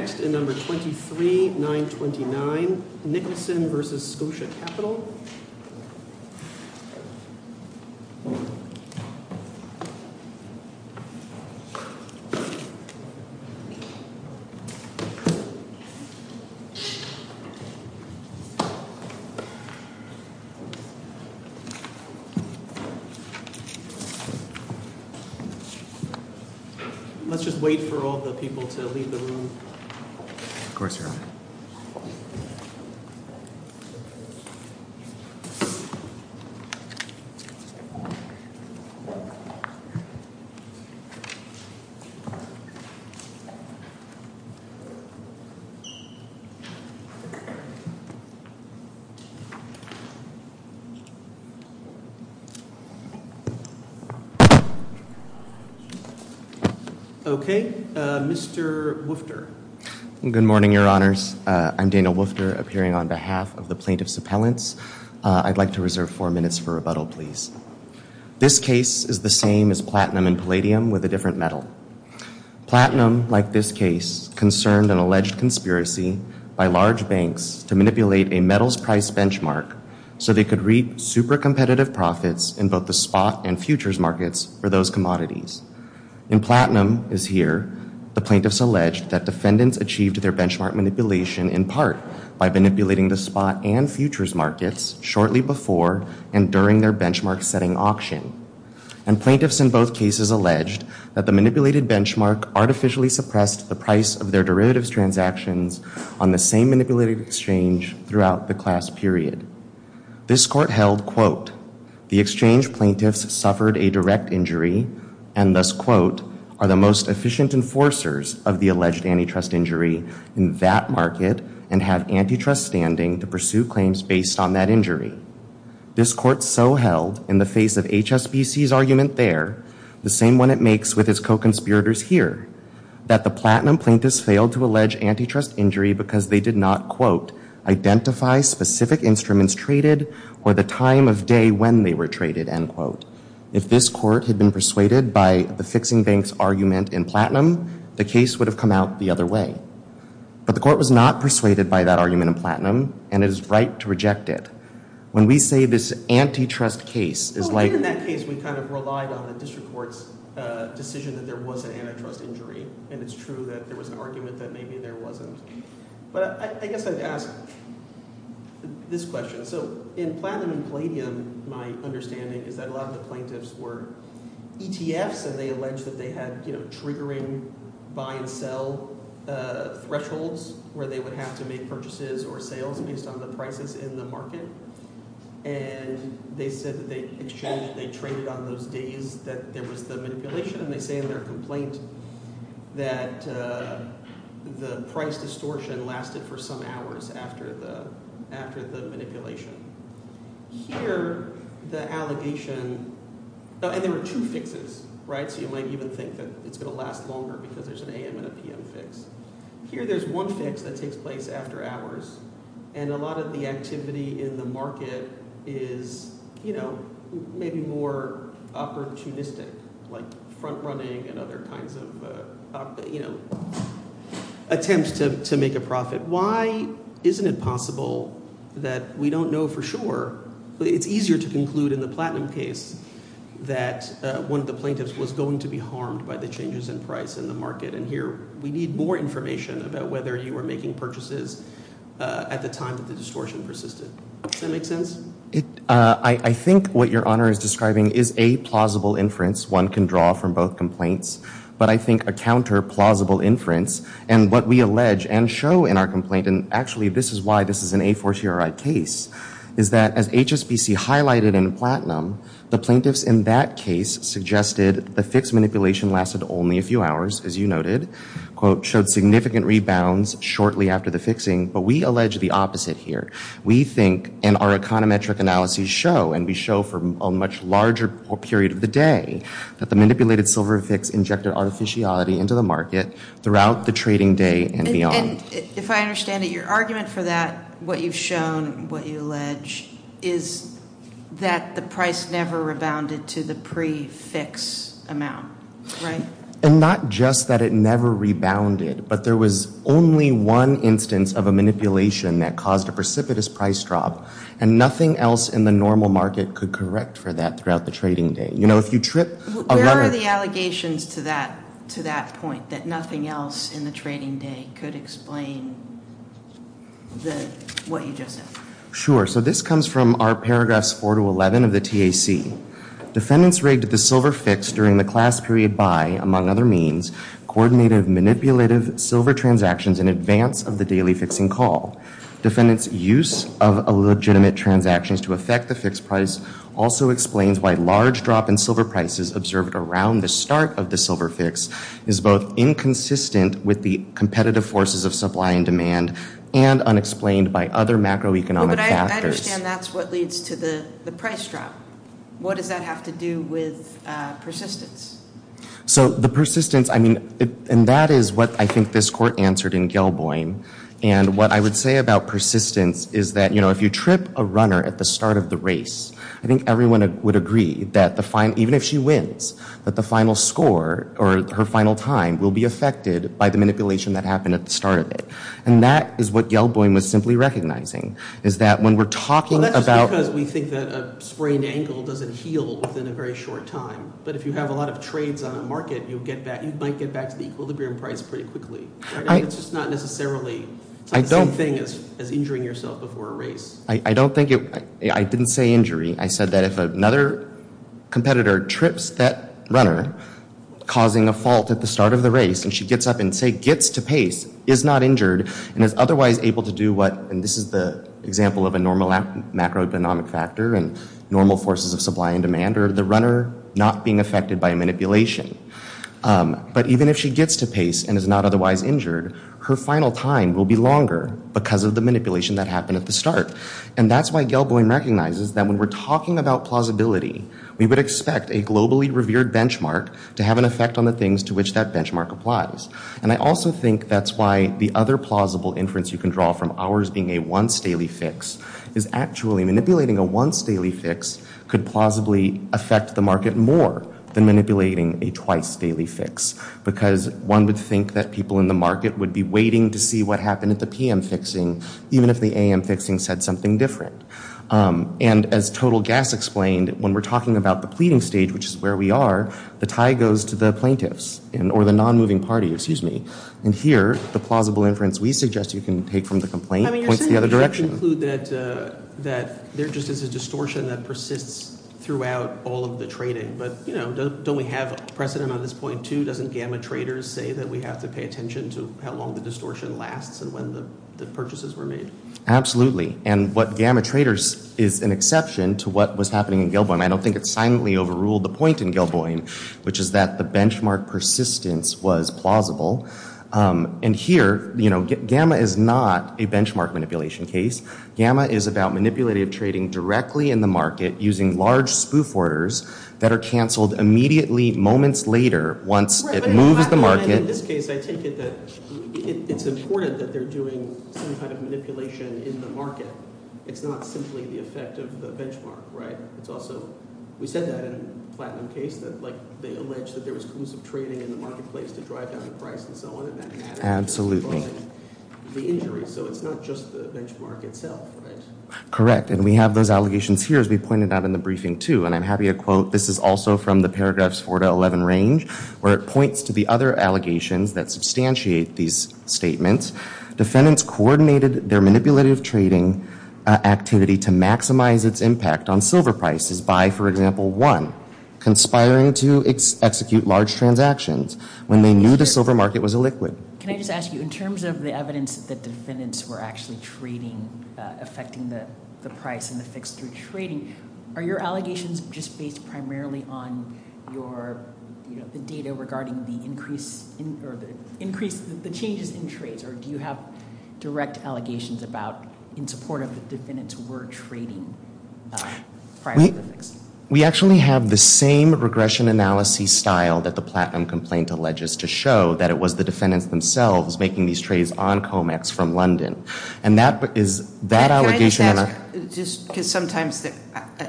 Next in number 23, 929, Nicholson v. Scotia Capital. Let's just wait for all the people to leave the room. Of course, you're on. Okay, Mr. Woofter. Good morning, Your Honors. I'm Daniel Woofter, appearing on behalf of the plaintiff's appellants. I'd like to reserve four minutes for rebuttal, please. This case is the same as platinum and palladium with a different metal. Platinum, like this case, concerned an alleged conspiracy by large banks to manipulate a metals price benchmark so they could reap super competitive profits in both the spot and futures markets for those commodities. In platinum, as here, the plaintiffs alleged that defendants achieved their benchmark manipulation in part by manipulating the spot and futures markets shortly before and during their benchmark setting auction. And plaintiffs in both cases alleged that the manipulated benchmark artificially suppressed the price of their derivatives transactions on the same manipulated exchange throughout the class period. This court held, quote, the exchange plaintiffs suffered a direct injury and thus, quote, are the most efficient enforcers of the alleged antitrust injury in that market and have antitrust standing to pursue claims based on that injury. This court so held in the face of HSBC's argument there, the same one it makes with its co-conspirators here, that the platinum plaintiffs failed to allege antitrust injury because they did not, quote, identify specific instruments traded or the time of day when they were traded, end quote. If this court had been persuaded by the fixing banks argument in platinum, the case would have come out the other way. But the court was not persuaded by that argument in platinum and it is right to reject it. When we say this antitrust case is like... And it's true that there was an argument that maybe there wasn't. But I guess I'd ask this question. So in platinum and palladium, my understanding is that a lot of the plaintiffs were ETFs and they alleged that they had triggering buy and sell thresholds where they would have to make purchases or sales based on the prices in the market. And they said that they exchanged – they traded on those days that there was the manipulation, and they say in their complaint that the price distortion lasted for some hours after the manipulation. Here the allegation – and there were two fixes, right? So you might even think that it's going to last longer because there's an AM and a PM fix. Here there's one fix that takes place after hours, and a lot of the activity in the market is maybe more opportunistic like front-running and other kinds of attempts to make a profit. Why isn't it possible that we don't know for sure? It's easier to conclude in the platinum case that one of the plaintiffs was going to be harmed by the changes in price in the market. And here we need more information about whether you were making purchases at the time that the distortion persisted. Does that make sense? I think what Your Honor is describing is a plausible inference. One can draw from both complaints. But I think a counter-plausible inference and what we allege and show in our complaint – and actually this is why this is an A4CRI case – is that as HSBC highlighted in platinum, the plaintiffs in that case suggested the fixed manipulation lasted only a few hours, as you noted, showed significant rebounds shortly after the fixing. But we allege the opposite here. We think, and our econometric analyses show, and we show for a much larger period of the day, that the manipulated silver fix injected artificiality into the market throughout the trading day and beyond. If I understand it, your argument for that, what you've shown, what you allege, is that the price never rebounded to the pre-fix amount, right? And not just that it never rebounded, but there was only one instance of a manipulation that caused a precipitous price drop and nothing else in the normal market could correct for that throughout the trading day. Where are the allegations to that point, that nothing else in the trading day could explain what you just said? Sure. So this comes from our paragraphs 4 to 11 of the TAC. Defendants rigged the silver fix during the class period by, among other means, coordinated manipulative silver transactions in advance of the daily fixing call. Defendants' use of illegitimate transactions to affect the fixed price also explains why large drop in silver prices observed around the start of the silver fix is both inconsistent with the competitive forces of supply and demand and unexplained by other macroeconomic factors. But I understand that's what leads to the price drop. What does that have to do with persistence? So the persistence, I mean, and that is what I think this court answered in Gelboin. And what I would say about persistence is that, you know, if you trip a runner at the start of the race, I think everyone would agree that even if she wins, that the final score or her final time will be affected by the manipulation that happened at the start of it. And that is what Gelboin was simply recognizing, is that when we're talking about— Well, that's just because we think that a sprained ankle doesn't heal within a very short time. But if you have a lot of trades on a market, you might get back to the equilibrium price pretty quickly. It's just not necessarily the same thing as injuring yourself before a race. I don't think it—I didn't say injury. I said that if another competitor trips that runner, causing a fault at the start of the race, and she gets up and, say, gets to pace, is not injured, and is otherwise able to do what— and this is the example of a normal macroeconomic factor and normal forces of supply and demand, or the runner not being affected by manipulation. But even if she gets to pace and is not otherwise injured, her final time will be longer because of the manipulation that happened at the start. And that's why Gelboin recognizes that when we're talking about plausibility, we would expect a globally revered benchmark to have an effect on the things to which that benchmark applies. And I also think that's why the other plausible inference you can draw from ours being a once-daily fix is actually manipulating a once-daily fix could plausibly affect the market more than manipulating a twice-daily fix, because one would think that people in the market would be waiting to see what happened at the p.m. fixing, even if the a.m. fixing said something different. And as Total Gas explained, when we're talking about the pleading stage, which is where we are, the tie goes to the plaintiffs, or the non-moving party, excuse me. And here, the plausible inference we suggest you can take from the complaint points the other direction. I mean, you're saying we should conclude that there just is a distortion that persists throughout all of the trading. But, you know, don't we have precedent on this point, too? Doesn't Gamma Traders say that we have to pay attention to how long the distortion lasts and when the purchases were made? Absolutely. And what Gamma Traders is an exception to what was happening in Gelboin. I don't think it silently overruled the point in Gelboin, which is that the benchmark persistence was plausible. And here, you know, Gamma is not a benchmark manipulation case. Gamma is about manipulative trading directly in the market using large spoof orders that are canceled immediately moments later once it moves the market. In this case, I take it that it's important that they're doing some kind of manipulation in the market. It's not simply the effect of the benchmark, right? It's also – we said that in the Platinum case that, like, they allege that there was collusive trading in the marketplace to drive down the price and so on. Absolutely. So it's not just the benchmark itself, right? Correct. And we have those allegations here, as we pointed out in the briefing, too. And I'm happy to quote – this is also from the paragraphs 4 to 11 range, where it points to the other allegations that substantiate these statements. Defendants coordinated their manipulative trading activity to maximize its impact on silver prices by, for example, one, conspiring to execute large transactions when they knew the silver market was illiquid. Can I just ask you, in terms of the evidence that defendants were actually trading, affecting the price and the fix through trading, are your allegations just based primarily on your – the data regarding the increase – or the changes in trades, or do you have direct allegations about – in support of the defendants were trading prior to the fix? We actually have the same regression analysis style that the Platinum complaint alleges to show, that it was the defendants themselves making these trades on COMEX from London. And that is – that allegation – Can I just ask, just because sometimes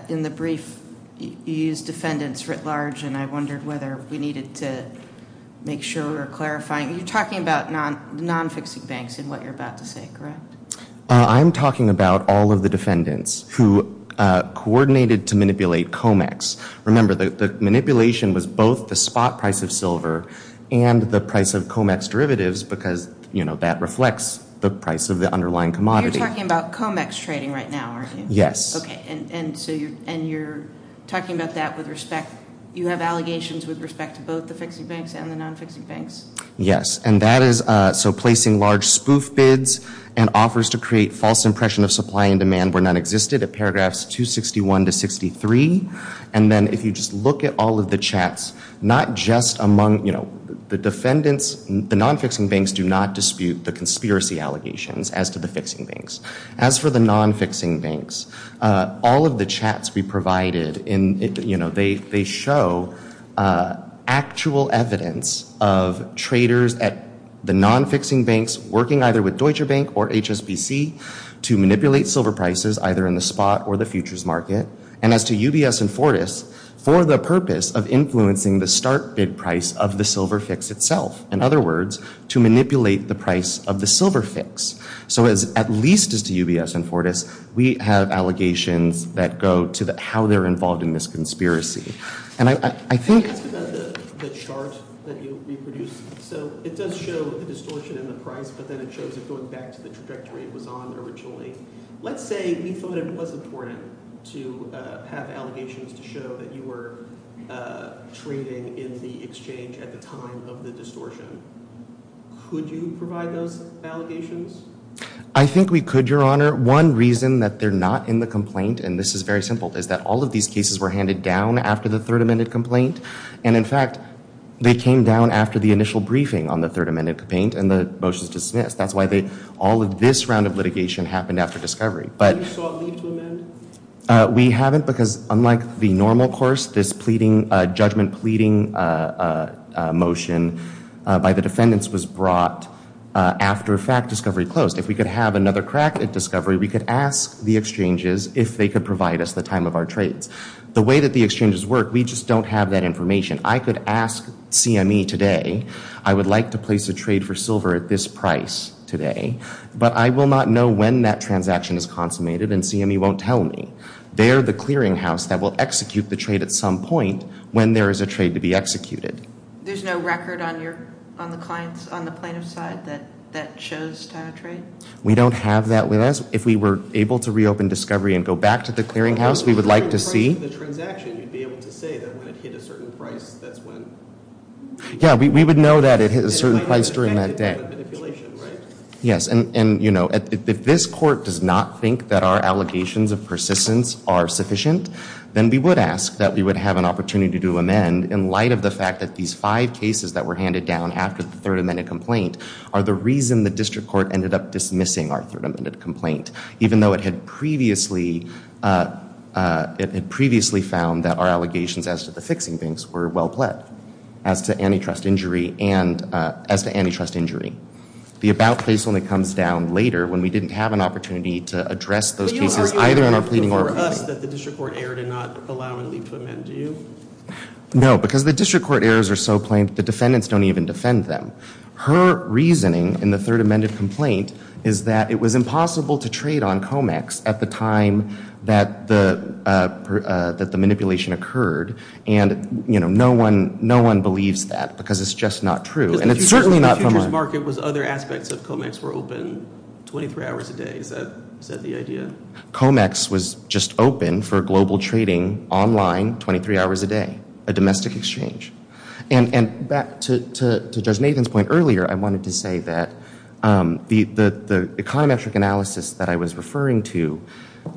in the brief you use defendants writ large, and I wondered whether we needed to make sure we were clarifying – you're talking about non-fixing banks in what you're about to say, correct? I'm talking about all of the defendants who coordinated to manipulate COMEX. Remember, the manipulation was both the spot price of silver and the price of COMEX derivatives because, you know, that reflects the price of the underlying commodity. You're talking about COMEX trading right now, aren't you? Yes. Okay, and so you're – and you're talking about that with respect – you have allegations with respect to both the fixing banks and the non-fixing banks? Yes, and that is – so placing large spoof bids and offers to create false impression of supply and demand where none existed at paragraphs 261 to 63. And then if you just look at all of the chats, not just among, you know, the defendants – the non-fixing banks do not dispute the conspiracy allegations as to the fixing banks. As for the non-fixing banks, all of the chats we provided in – you know, they show actual evidence of traders at the non-fixing banks working either with Deutsche Bank or HSBC to manipulate silver prices either in the spot or the futures market. And as to UBS and Fortis, for the purpose of influencing the start bid price of the silver fix itself. In other words, to manipulate the price of the silver fix. So as – at least as to UBS and Fortis, we have allegations that go to how they're involved in this conspiracy. And I think – Can I ask about the chart that you reproduced? So it does show the distortion in the price, but then it shows it going back to the trajectory it was on originally. Let's say we thought it was important to have allegations to show that you were trading in the exchange at the time of the distortion. Could you provide those allegations? I think we could, Your Honor. One reason that they're not in the complaint, and this is very simple, is that all of these cases were handed down after the third amended complaint. And in fact, they came down after the initial briefing on the third amended complaint and the motions dismissed. That's why they – all of this round of litigation happened after discovery. Have you sought leave to amend? We haven't because unlike the normal course, this pleading – judgment pleading motion by the defendants was brought after fact discovery closed. If we could have another crack at discovery, we could ask the exchanges if they could provide us the time of our trades. The way that the exchanges work, we just don't have that information. I could ask CME today, I would like to place a trade for silver at this price today, but I will not know when that transaction is consummated, and CME won't tell me. They're the clearinghouse that will execute the trade at some point when there is a trade to be executed. There's no record on your – on the client's – on the plaintiff's side that that chose to have a trade? We don't have that with us. If we were able to reopen discovery and go back to the clearinghouse, we would like to see – Well, if you were in charge of the transaction, you'd be able to say that when it hit a certain price, that's when – Yeah, we would know that it hit a certain price during that day. Yes, and, you know, if this court does not think that our allegations of persistence are sufficient, then we would ask that we would have an opportunity to amend in light of the fact that these five cases that were handed down after the third amended complaint are the reason the district court ended up dismissing our third amended complaint, even though it had previously – it had previously found that our allegations as to the fixing banks were well-pled as to antitrust injury and – as to antitrust injury. The about place only comes down later when we didn't have an opportunity to address those cases, either in our pleading or – But you don't argue for us that the district court error did not allow and lead to amend, do you? No, because the district court errors are so plain that the defendants don't even defend them. Her reasoning in the third amended complaint is that it was impossible to trade on COMEX at the time that the manipulation occurred, and, you know, no one – no one believes that because it's just not true, and it's certainly not – But the futures market was other aspects of COMEX were open 23 hours a day. Is that the idea? COMEX was just open for global trading online 23 hours a day, a domestic exchange. And back to Judge Nathan's point earlier, I wanted to say that the econometric analysis that I was referring to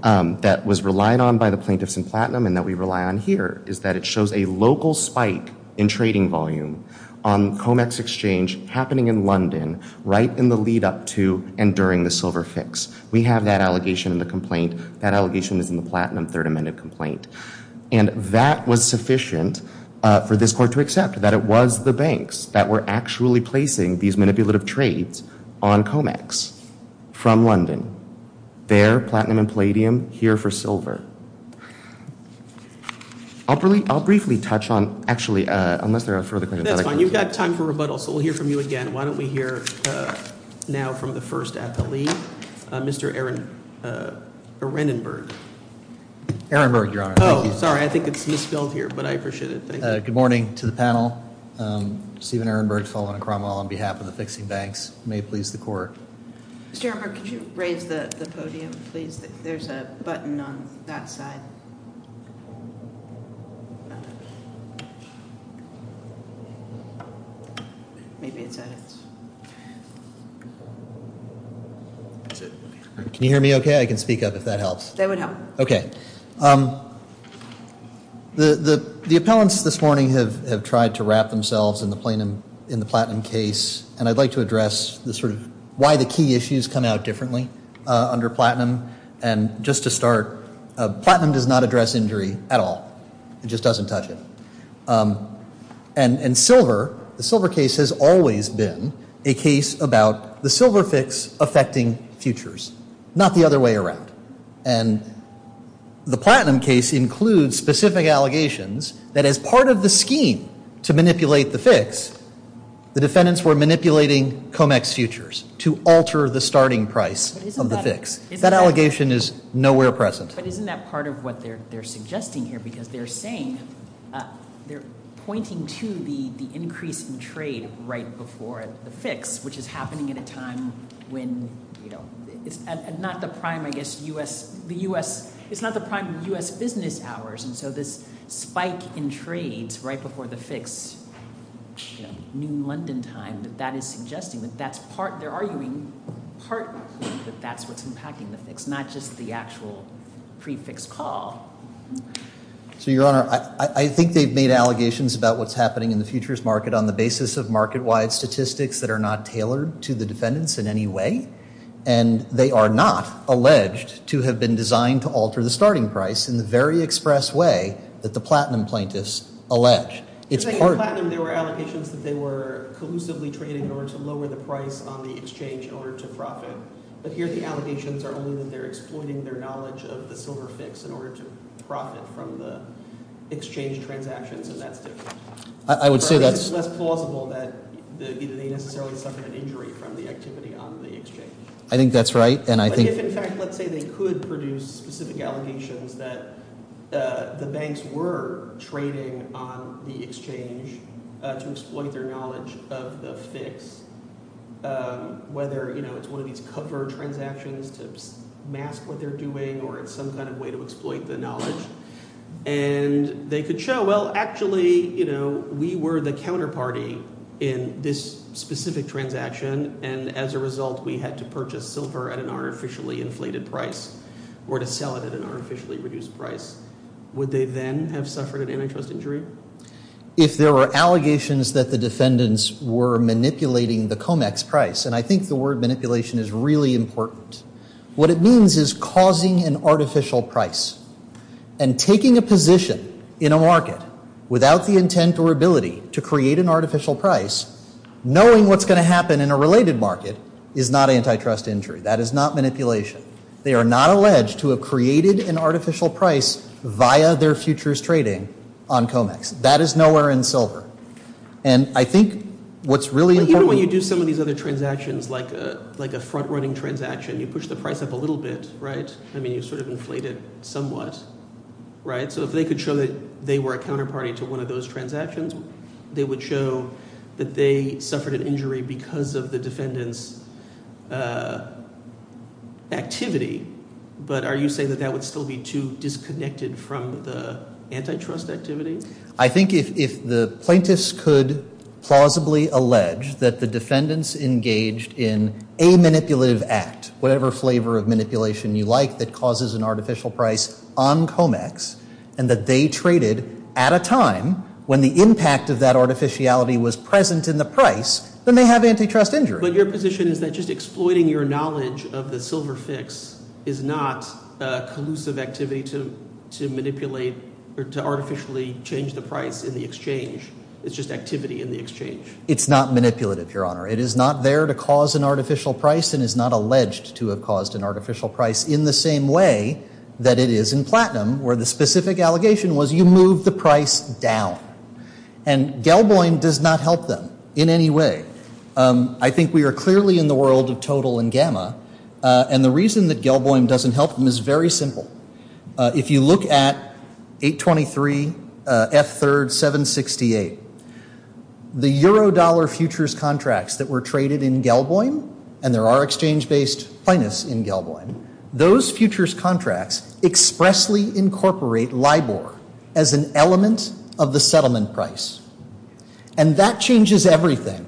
that was relied on by the plaintiffs in Platinum and that we rely on here is that it shows a local spike in trading volume on COMEX exchange happening in London right in the lead up to and during the silver fix. We have that allegation in the complaint. That allegation is in the Platinum third amended complaint. And that was sufficient for this court to accept, that it was the banks that were actually placing these manipulative trades on COMEX from London. There, Platinum and Palladium, here for silver. I'll briefly touch on – actually, unless there are further questions. That's fine. You've got time for rebuttal, so we'll hear from you again. Why don't we hear now from the first appellee, Mr. Aaron Renenberg. Aaron Berg, Your Honor. Oh, sorry. I think it's misspelled here, but I appreciate it. Thank you. Good morning to the panel. Stephen Aaron Berg, fellow at Cromwell on behalf of the Fixing Banks. May it please the court. Mr. Aaron Berg, could you raise the podium, please? There's a button on that side. Maybe it's at its – Can you hear me okay? I can speak up if that helps. That would help. Okay. The appellants this morning have tried to wrap themselves in the Platinum case, and I'd like to address sort of why the key issues come out differently under Platinum. And just to start, Platinum does not address injury at all. It just doesn't touch it. And silver, the silver case has always been a case about the silver fix affecting futures, not the other way around. And the Platinum case includes specific allegations that as part of the scheme to manipulate the fix, the defendants were manipulating Comex futures to alter the starting price of the fix. That allegation is nowhere present. But isn't that part of what they're suggesting here? Because they're saying, they're pointing to the increase in trade right before the fix, which is happening at a time when, you know, it's not the prime, I guess, U.S. – the U.S. – it's not the prime U.S. business hours. And so this spike in trades right before the fix, you know, noon London time, that that is suggesting that that's part – they're arguing part that that's what's impacting the fix, not just the actual pre-fix call. So, Your Honor, I think they've made allegations about what's happening in the futures market on the basis of market-wide statistics that are not tailored to the defendants in any way. And they are not alleged to have been designed to alter the starting price in the very express way that the Platinum plaintiffs allege. It's part – You're saying in Platinum there were allegations that they were collusively trading in order to lower the price on the exchange in order to profit. But here the allegations are only that they're exploiting their knowledge of the silver fix in order to profit from the exchange transactions, and that's different. I would say that's – It's less plausible that they necessarily suffered an injury from the activity on the exchange. I think that's right, and I think – But if, in fact, let's say they could produce specific allegations that the banks were trading on the exchange to exploit their knowledge of the fix, whether, you know, it's one of these cover transactions to mask what they're doing or it's some kind of way to exploit the knowledge, and they could show, well, actually, you know, we were the counterparty in this specific transaction, and as a result we had to purchase silver at an artificially inflated price or to sell it at an artificially reduced price, would they then have suffered an antitrust injury? If there were allegations that the defendants were manipulating the COMEX price, and I think the word manipulation is really important, what it means is causing an artificial price and taking a position in a market without the intent or ability to create an artificial price, knowing what's going to happen in a related market is not antitrust injury. That is not manipulation. They are not alleged to have created an artificial price via their futures trading on COMEX. That is nowhere in silver, and I think what's really important – like a front-running transaction, you push the price up a little bit, right? I mean you sort of inflate it somewhat, right? So if they could show that they were a counterparty to one of those transactions, they would show that they suffered an injury because of the defendant's activity, but are you saying that that would still be too disconnected from the antitrust activity? I think if the plaintiffs could plausibly allege that the defendants engaged in a manipulative act, whatever flavor of manipulation you like that causes an artificial price on COMEX, and that they traded at a time when the impact of that artificiality was present in the price, then they have antitrust injury. But your position is that just exploiting your knowledge of the silver fix is not a collusive activity to manipulate or to artificially change the price in the exchange. It's just activity in the exchange. It's not manipulative, Your Honor. It is not there to cause an artificial price and is not alleged to have caused an artificial price in the same way that it is in platinum, where the specific allegation was you move the price down. And Gelboin does not help them in any way. I think we are clearly in the world of total and gamma, and the reason that Gelboin doesn't help them is very simple. If you look at 823 F3rd 768, the euro-dollar futures contracts that were traded in Gelboin, and there are exchange-based plaintiffs in Gelboin, those futures contracts expressly incorporate LIBOR as an element of the settlement price. And that changes everything.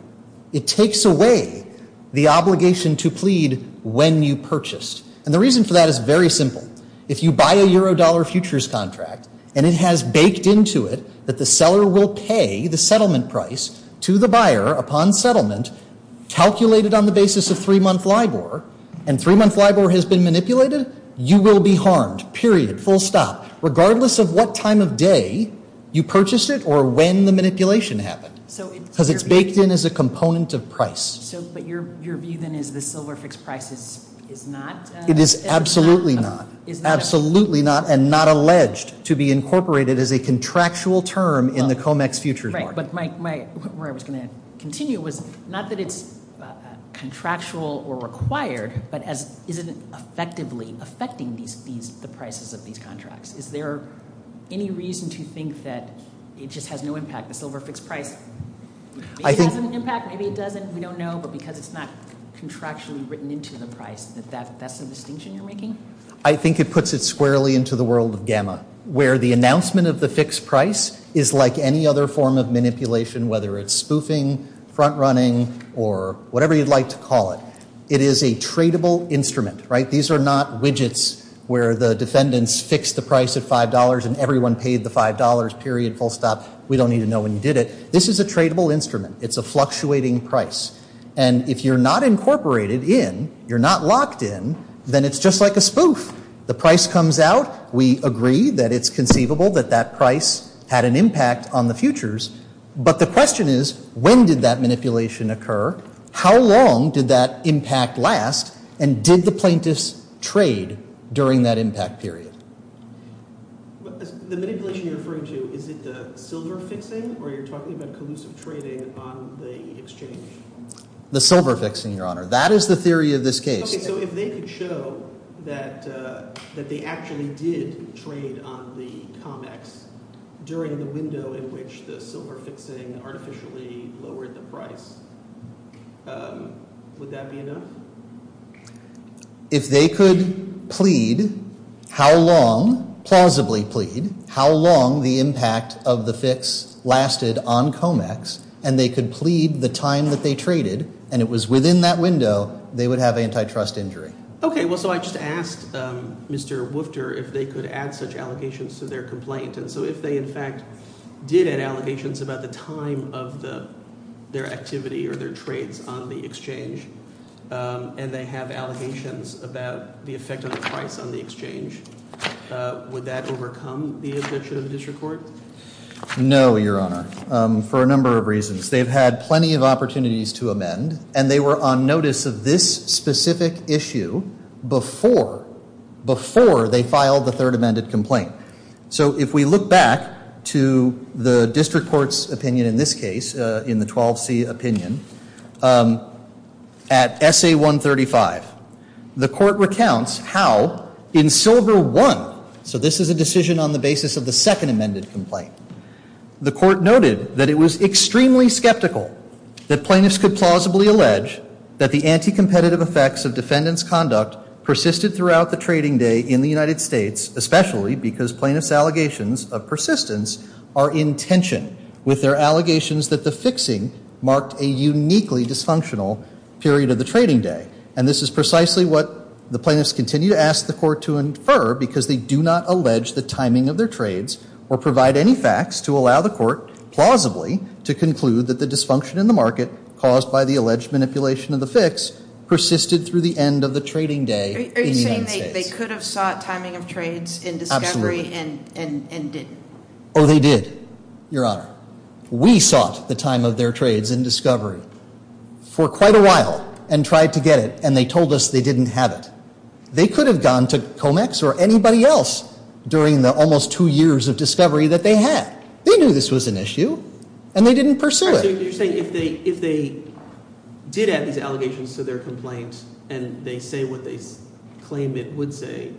It takes away the obligation to plead when you purchased. And the reason for that is very simple. If you buy a euro-dollar futures contract and it has baked into it that the seller will pay the settlement price to the buyer upon settlement, calculated on the basis of three-month LIBOR, and three-month LIBOR has been manipulated, you will be harmed, period, full stop, regardless of what time of day you purchased it or when the manipulation happened. Because it's baked in as a component of price. But your view, then, is the silver fixed price is not? It is absolutely not, absolutely not, and not alleged to be incorporated as a contractual term in the COMEX futures market. Right, but where I was going to continue was not that it's contractual or required, but is it effectively affecting the prices of these contracts? Is there any reason to think that it just has no impact, the silver fixed price? Maybe it has an impact, maybe it doesn't, we don't know, but because it's not contractually written into the price, that that's the distinction you're making? I think it puts it squarely into the world of gamma, where the announcement of the fixed price is like any other form of manipulation, whether it's spoofing, front-running, or whatever you'd like to call it. It is a tradable instrument, right? These are not widgets where the defendants fixed the price at $5 and everyone paid the $5, period, full stop. We don't need to know when you did it. This is a tradable instrument. It's a fluctuating price, and if you're not incorporated in, you're not locked in, then it's just like a spoof. The price comes out. We agree that it's conceivable that that price had an impact on the futures, but the question is when did that manipulation occur, how long did that impact last, and did the plaintiffs trade during that impact period? The manipulation you're referring to, is it the silver fixing, or are you talking about collusive trading on the exchange? The silver fixing, Your Honor. That is the theory of this case. Okay, so if they could show that they actually did trade on the ComEx during the window in which the silver fixing artificially lowered the price, would that be enough? If they could plead, how long, plausibly plead, how long the impact of the fix lasted on ComEx, and they could plead the time that they traded, and it was within that window, they would have antitrust injury. Okay, well, so I just asked Mr. Woofter if they could add such allegations to their complaint, and so if they, in fact, did add allegations about the time of their activity or their trades on the exchange, and they have allegations about the effect of the price on the exchange, would that overcome the objection of the district court? No, Your Honor, for a number of reasons. They've had plenty of opportunities to amend, and they were on notice of this specific issue before, before they filed the third amended complaint. So if we look back to the district court's opinion in this case, in the 12C opinion, at Essay 135, the court recounts how in Silver 1, so this is a decision on the basis of the second amended complaint, the court noted that it was extremely skeptical that plaintiffs could plausibly allege that the anti-competitive effects of defendant's conduct persisted throughout the trading day in the United States, especially because plaintiffs' allegations of persistence are in tension with their allegations that the fixing marked a uniquely dysfunctional period of the trading day, and this is precisely what the plaintiffs continue to ask the court to infer because they do not allege the timing of their trades or provide any facts to allow the court plausibly to conclude that the dysfunction in the market caused by the alleged manipulation of the fix persisted through the end of the trading day in the United States. So you're saying they could have sought timing of trades in discovery and didn't? Oh, they did, Your Honor. We sought the time of their trades in discovery for quite a while and tried to get it, and they told us they didn't have it. They could have gone to COMEX or anybody else during the almost two years of discovery that they had. They knew this was an issue, and they didn't pursue it. So you're saying if they did add these allegations to their complaint and they say what they claim it would say,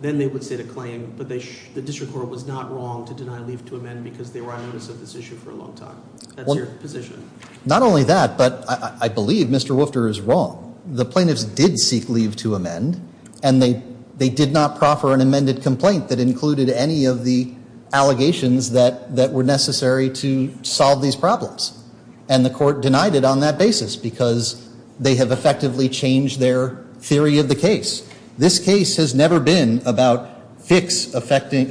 then they would set a claim, but the district court was not wrong to deny leave to amend because they were on notice of this issue for a long time. That's your position. Not only that, but I believe Mr. Woofter is wrong. The plaintiffs did seek leave to amend, and they did not proffer an amended complaint that included any of the allegations that were necessary to solve these problems, and the court denied it on that basis because they have effectively changed their theory of the case. This case has never been about futures affecting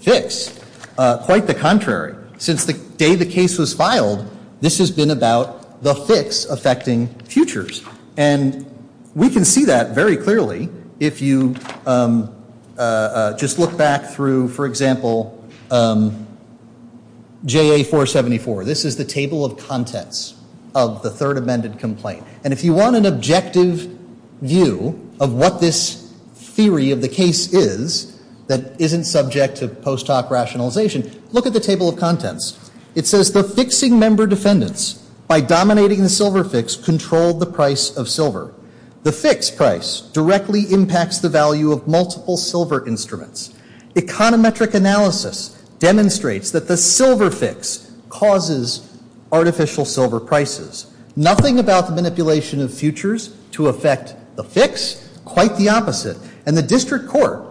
fix. Quite the contrary. Since the day the case was filed, this has been about the fix affecting futures. And we can see that very clearly if you just look back through, for example, JA 474. This is the table of contents of the third amended complaint. And if you want an objective view of what this theory of the case is that isn't subject to post hoc rationalization, look at the table of contents. It says the fixing member defendants by dominating the silver fix controlled the price of silver. The fix price directly impacts the value of multiple silver instruments. Econometric analysis demonstrates that the silver fix causes artificial silver prices. Nothing about the manipulation of futures to affect the fix. Quite the opposite. And the district court,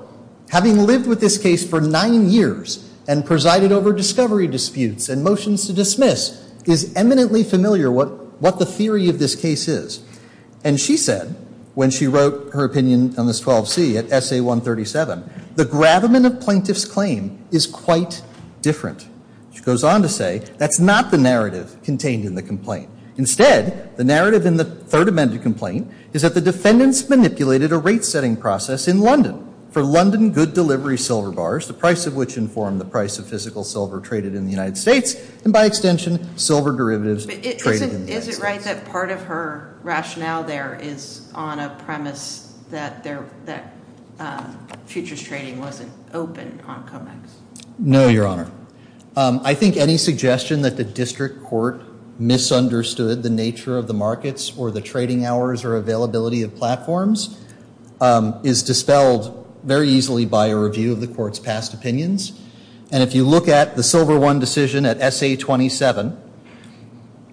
having lived with this case for nine years and presided over discovery disputes and motions to dismiss, is eminently familiar what the theory of this case is. And she said when she wrote her opinion on this 12C at SA 137, the gravamen of plaintiff's claim is quite different. She goes on to say that's not the narrative contained in the complaint. Instead, the narrative in the third amended complaint is that the defendants manipulated a rate setting process in London for London good delivery silver bars, the price of which informed the price of physical silver traded in the United States, and by extension, silver derivatives traded in the United States. Is it right that part of her rationale there is on a premise that futures trading wasn't open on COMEX? No, Your Honor. I think any suggestion that the district court misunderstood the nature of the markets or the trading hours or availability of platforms is dispelled very easily by a review of the court's past opinions. And if you look at the Silver I decision at SA 27,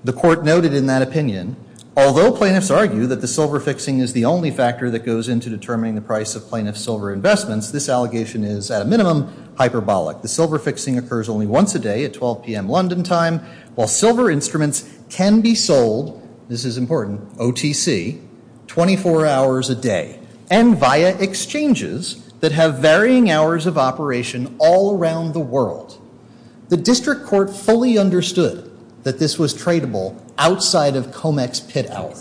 the court noted in that opinion, although plaintiffs argue that the silver fixing is the only factor that goes into determining the price of plaintiff's silver investments, this allegation is, at a minimum, hyperbolic. The silver fixing occurs only once a day at 12 p.m. London time, while silver instruments can be sold, this is important, OTC, 24 hours a day, and via exchanges that have varying hours of operation all around the world. The district court fully understood that this was tradable outside of COMEX pit hours.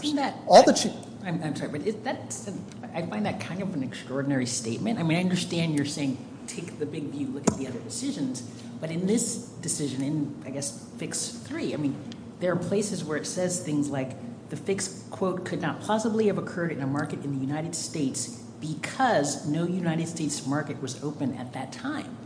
I find that kind of an extraordinary statement. I mean, I understand you're saying take the big view, look at the other decisions, but in this decision, in, I guess, Fix 3, I mean, there are places where it says things like the fixed quote could not possibly have occurred in a market in the United States because no United States market was open at that time.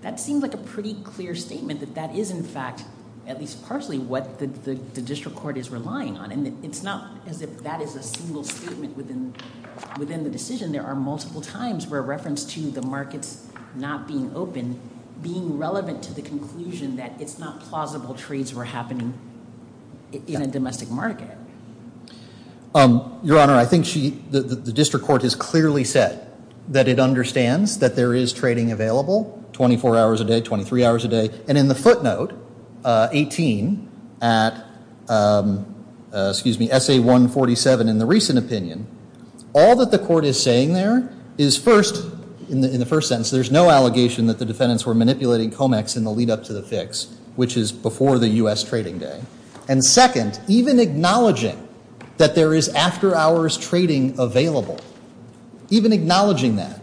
That seems like a pretty clear statement that that is, in fact, at least partially, what the district court is relying on. And it's not as if that is a single statement within the decision. There are multiple times where reference to the markets not being open being relevant to the conclusion that it's not plausible trades were happening in a domestic market. Your Honor, I think the district court has clearly said that it understands that there is trading available 24 hours a day, 23 hours a day, and in the footnote 18 at, excuse me, SA 147 in the recent opinion, all that the court is saying there is first, in the first sentence, there's no allegation that the defendants were manipulating COMEX in the lead up to the fix, which is before the U.S. trading day. And second, even acknowledging that there is after hours trading available, even acknowledging that,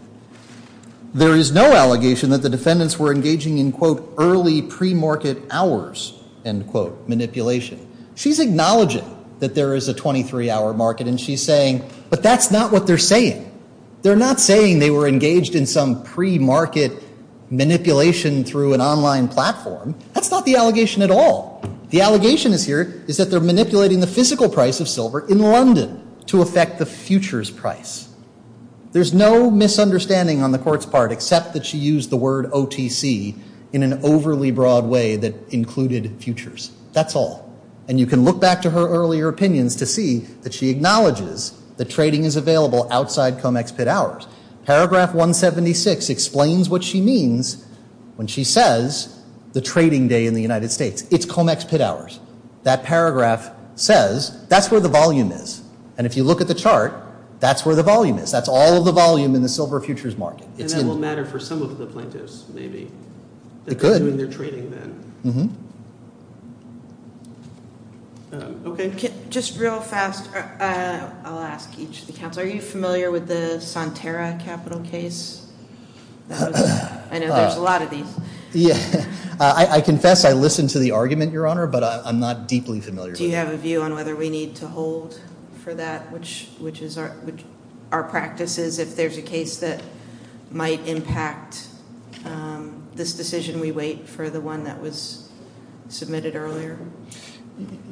there is no allegation that the defendants were engaging in, quote, early premarket hours, end quote, manipulation. She's acknowledging that there is a 23-hour market, and she's saying, but that's not what they're saying. They're not saying they were engaged in some premarket manipulation through an online platform. That's not the allegation at all. The allegation is here is that they're manipulating the physical price of silver in London to affect the futures price. There's no misunderstanding on the court's part except that she used the word OTC in an overly broad way that included futures. That's all. And you can look back to her earlier opinions to see that she acknowledges that trading is available outside COMEX pit hours. Paragraph 176 explains what she means when she says the trading day in the United States. It's COMEX pit hours. That paragraph says that's where the volume is. And if you look at the chart, that's where the volume is. That's all of the volume in the silver futures market. And that will matter for some of the plaintiffs, maybe. It could. They're doing their trading then. Mm-hmm. Okay. Just real fast, I'll ask each of the counsel. Are you familiar with the Sonterra capital case? I know there's a lot of these. I confess I listened to the argument, Your Honor, but I'm not deeply familiar with it. Do you have a view on whether we need to hold for that, which our practice is, if there's a case that might impact this decision, we wait for the one that was submitted earlier?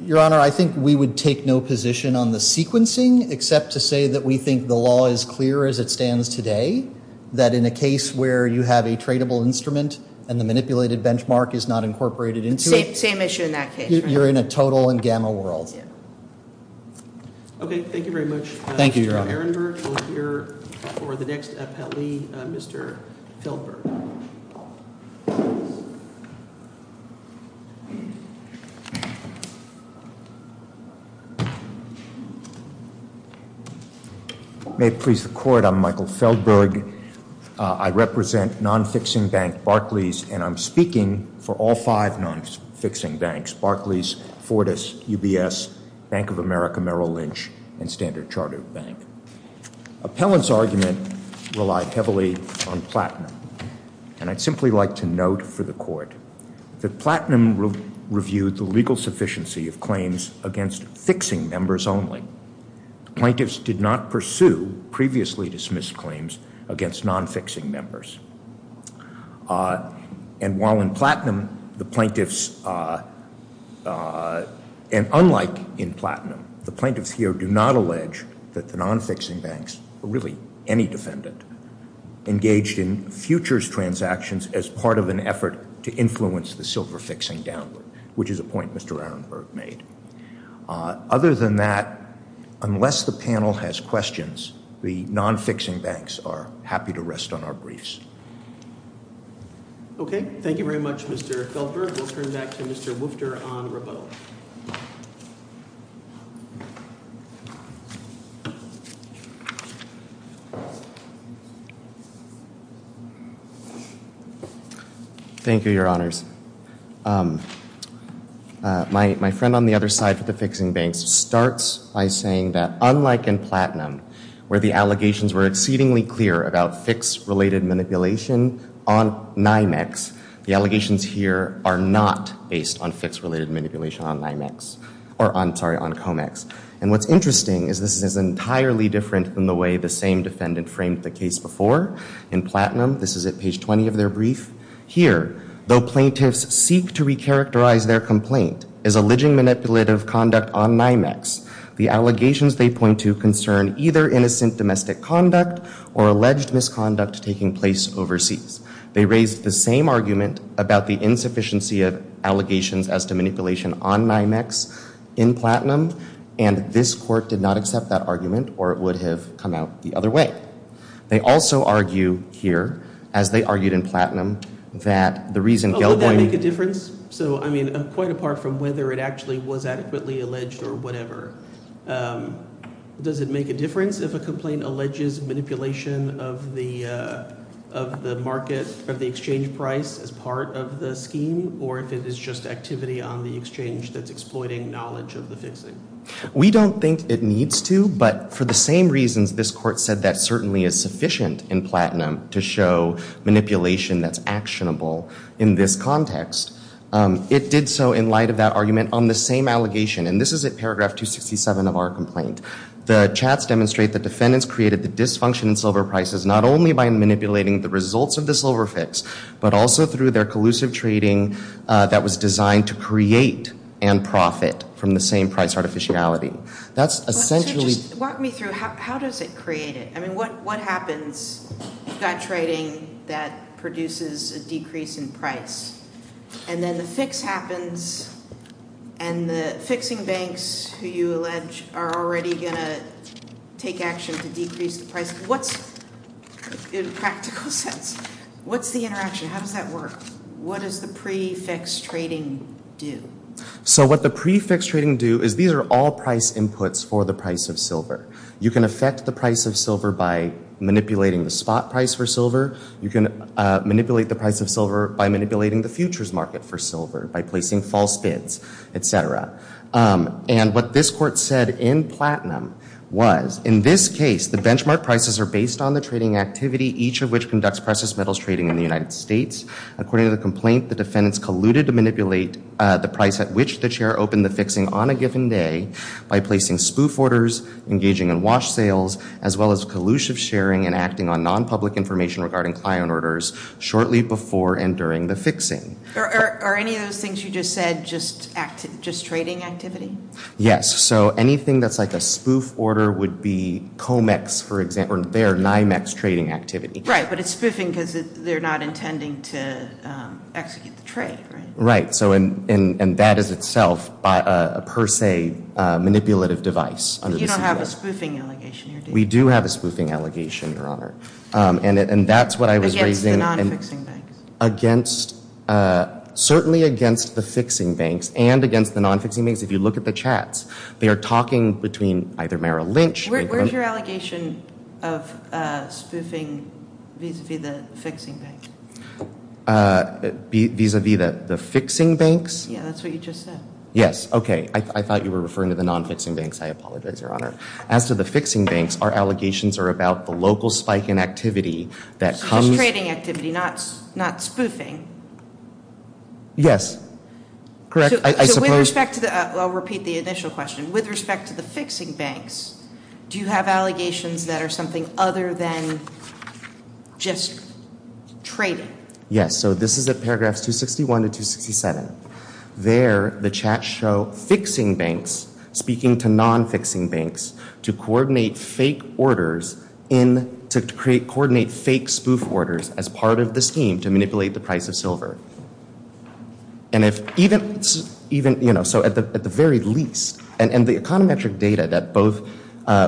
Your Honor, I think we would take no position on the sequencing except to say that we think the law is clear as it stands today, that in a case where you have a tradable instrument and the manipulated benchmark is not incorporated into it. Same issue in that case, right? You're in a total and gamma world. Okay. Thank you very much. Thank you, Your Honor. Mr. Ehrenberg will hear for the next appellee, Mr. Feldberg. May it please the Court, I'm Michael Feldberg. I represent non-fixing bank Barclays, and I'm speaking for all five non-fixing banks, Barclays, Fortis, UBS, Bank of America, Merrill Lynch, and Standard Chartered Bank. Appellant's argument relied heavily on Platinum, and I'd simply like to note for the Court that Platinum reviewed the legal sufficiency of claims against fixing members only. Plaintiffs did not pursue previously dismissed claims against non-fixing members. And while in Platinum the plaintiffs, and unlike in Platinum, the plaintiffs here do not allege that the non-fixing banks, or really any defendant, engaged in futures transactions as part of an effort to influence the silver fixing downward, which is a point Mr. Ehrenberg made. Other than that, unless the panel has questions, the non-fixing banks are happy to rest on our briefs. Okay. Thank you very much, Mr. Feldberg. We'll turn back to Mr. Woofter on rebuttal. Thank you, Your Honors. My friend on the other side for the fixing banks starts by saying that unlike in Platinum, where the allegations were exceedingly clear about fix-related manipulation on NYMEX, the allegations here are not based on fix-related manipulation on NYMEX. Or, I'm sorry, on COMEX. And what's interesting is this is entirely different than the way the same defendant framed the case before. In Platinum, this is at page 20 of their brief. Here, though plaintiffs seek to recharacterize their complaint as alleging manipulative conduct on NYMEX, the allegations they point to concern either innocent domestic conduct or alleged misconduct taking place overseas. They raise the same argument about the insufficiency of allegations as to manipulation on NYMEX in Platinum, and this court did not accept that argument, or it would have come out the other way. They also argue here, as they argued in Platinum, that the reason Gilboy— Oh, would that make a difference? So, I mean, quite apart from whether it actually was adequately alleged or whatever, does it make a difference if a complaint alleges manipulation of the market, of the exchange price as part of the scheme, or if it is just activity on the exchange that's exploiting knowledge of the fixing? We don't think it needs to, but for the same reasons this court said that certainly is sufficient in Platinum to show manipulation that's actionable in this context. It did so in light of that argument on the same allegation, and this is at paragraph 267 of our complaint. The chats demonstrate that defendants created the dysfunction in silver prices not only by manipulating the results of the silver fix, but also through their collusive trading that was designed to create and profit from the same price artificiality. That's essentially— So just walk me through. How does it create it? I mean, what happens? You've got trading that produces a decrease in price, and then the fix happens, and the fixing banks, who you allege, are already going to take action to decrease the price. In a practical sense, what's the interaction? How does that work? What does the pre-fix trading do? So what the pre-fix trading do is these are all price inputs for the price of silver. You can affect the price of silver by manipulating the spot price for silver. You can manipulate the price of silver by manipulating the futures market for silver by placing false bids, etc. And what this court said in platinum was, in this case, the benchmark prices are based on the trading activity, each of which conducts precious metals trading in the United States. According to the complaint, the defendants colluded to manipulate the price at which the chair opened the fixing on a given day by placing spoof orders, engaging in wash sales, as well as collusive sharing and acting on non-public information regarding client orders shortly before and during the fixing. Are any of those things you just said just trading activity? Yes. So anything that's like a spoof order would be COMEX, for example, or NIMEX trading activity. Right. But it's spoofing because they're not intending to execute the trade, right? Right. And that is itself a per se manipulative device. You don't have a spoofing allegation here, do you? We do have a spoofing allegation, Your Honor. Against the non-fixing banks? Certainly against the fixing banks and against the non-fixing banks. If you look at the chats, they are talking between either Merrill Lynch. Where's your allegation of spoofing vis-a-vis the fixing banks? Vis-a-vis the fixing banks? Yeah, that's what you just said. Yes. Okay. I thought you were referring to the non-fixing banks. I apologize, Your Honor. As to the fixing banks, our allegations are about the local spike in activity that comes It's trading activity, not spoofing. Yes. Correct. I suppose. So with respect to the – I'll repeat the initial question. With respect to the fixing banks, do you have allegations that are something other than just trading? Yes. So this is at paragraphs 261 to 267. There, the chats show fixing banks speaking to non-fixing banks to coordinate fake orders in – to coordinate fake spoof orders as part of the scheme to manipulate the price of silver. And if – even, you know, so at the very least – and the econometric data that both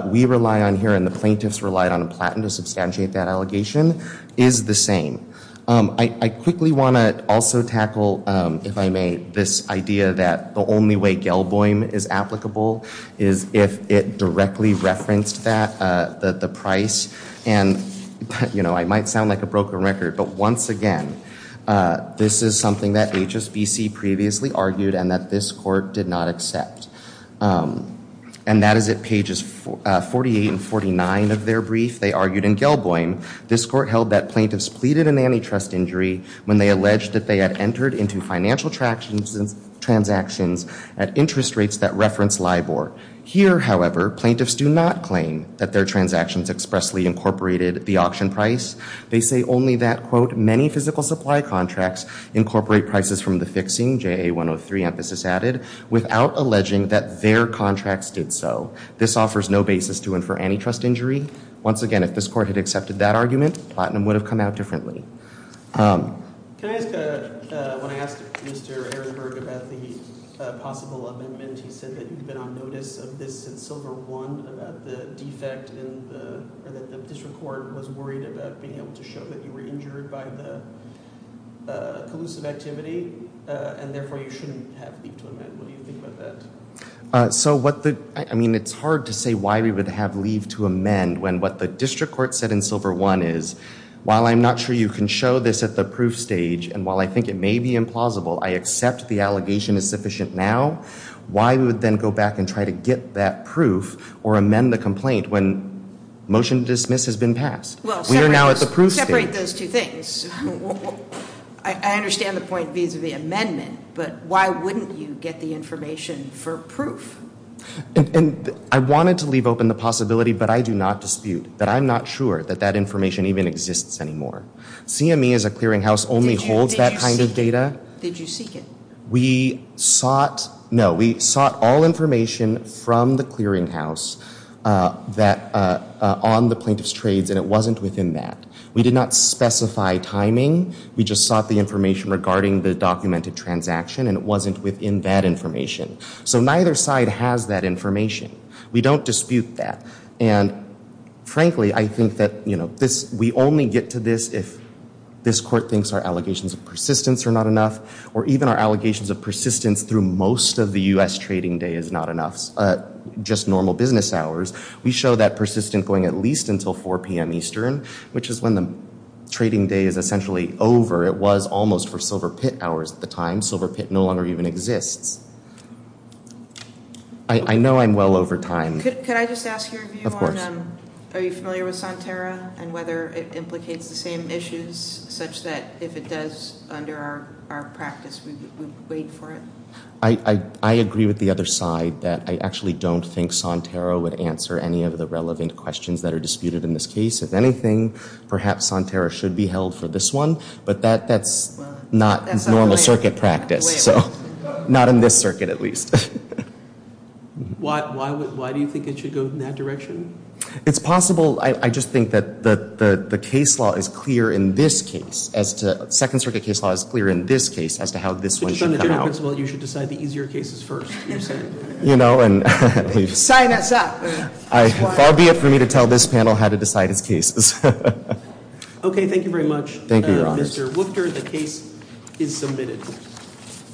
we rely on here and the plaintiffs relied on in Platton to substantiate that allegation is the same. I quickly want to also tackle, if I may, this idea that the only way Gelboim is applicable is if it directly referenced that – the price. And, you know, I might sound like a broken record, but once again, this is something that HSBC previously argued and that this court did not accept. And that is at pages 48 and 49 of their brief. They argued in Gelboim, this court held that plaintiffs pleaded an antitrust injury when they alleged that they had entered into financial transactions at interest rates that referenced LIBOR. Here, however, plaintiffs do not claim that their transactions expressly incorporated the auction price. They say only that, quote, many physical supply contracts incorporate prices from the fixing, JA 103 emphasis added, without alleging that their contracts did so. This offers no basis to infer antitrust injury. Once again, if this court had accepted that argument, Platton would have come out differently. Can I ask – when I asked Mr. Ehrenberg about the possible amendment, he said that you've been on notice of this since Silver I, about the defect in the – or that the district court was worried about being able to show that you were injured by the collusive activity, and therefore you shouldn't have leave to amend. What do you think about that? So what the – I mean, it's hard to say why we would have leave to amend when what the district court said in Silver I is, while I'm not sure you can show this at the proof stage, and while I think it may be implausible, I accept the allegation is sufficient now. Why would then go back and try to get that proof or amend the complaint when motion to dismiss has been passed? We are now at the proof stage. Separate those two things. I understand the point vis-a-vis amendment, but why wouldn't you get the information for proof? And I wanted to leave open the possibility, but I do not dispute that I'm not sure that that information even exists anymore. CME as a clearinghouse only holds that kind of data. Did you seek it? We sought – no, we sought all information from the clearinghouse that – on the plaintiff's trades, and it wasn't within that. We did not specify timing. We just sought the information regarding the documented transaction, and it wasn't within that information. So neither side has that information. We don't dispute that. And frankly, I think that, you know, this – we only get to this if this court thinks our allegations of persistence are not enough, or even our allegations of persistence through most of the U.S. trading day is not enough, just normal business hours. We show that persistence going at least until 4 p.m. Eastern, which is when the trading day is essentially over. It was almost for silver pit hours at the time. Silver pit no longer even exists. I know I'm well over time. Could I just ask your view on – Of course. Are you familiar with Sonterra and whether it implicates the same issues such that if it does under our practice, we would wait for it? I agree with the other side that I actually don't think Sonterra would answer any of the relevant questions that are disputed in this case. If anything, perhaps Sonterra should be held for this one, but that's not normal circuit practice. So not in this circuit at least. Why do you think it should go in that direction? It's possible. I just think that the case law is clear in this case as to – Second Circuit case law is clear in this case as to how this one should come out. Based on the general principle, you should decide the easier cases first. Sign us up. Far be it for me to tell this panel how to decide its cases. Okay. Thank you very much, Mr. Wuchter. Thank you, Your Honors. The case is submitted.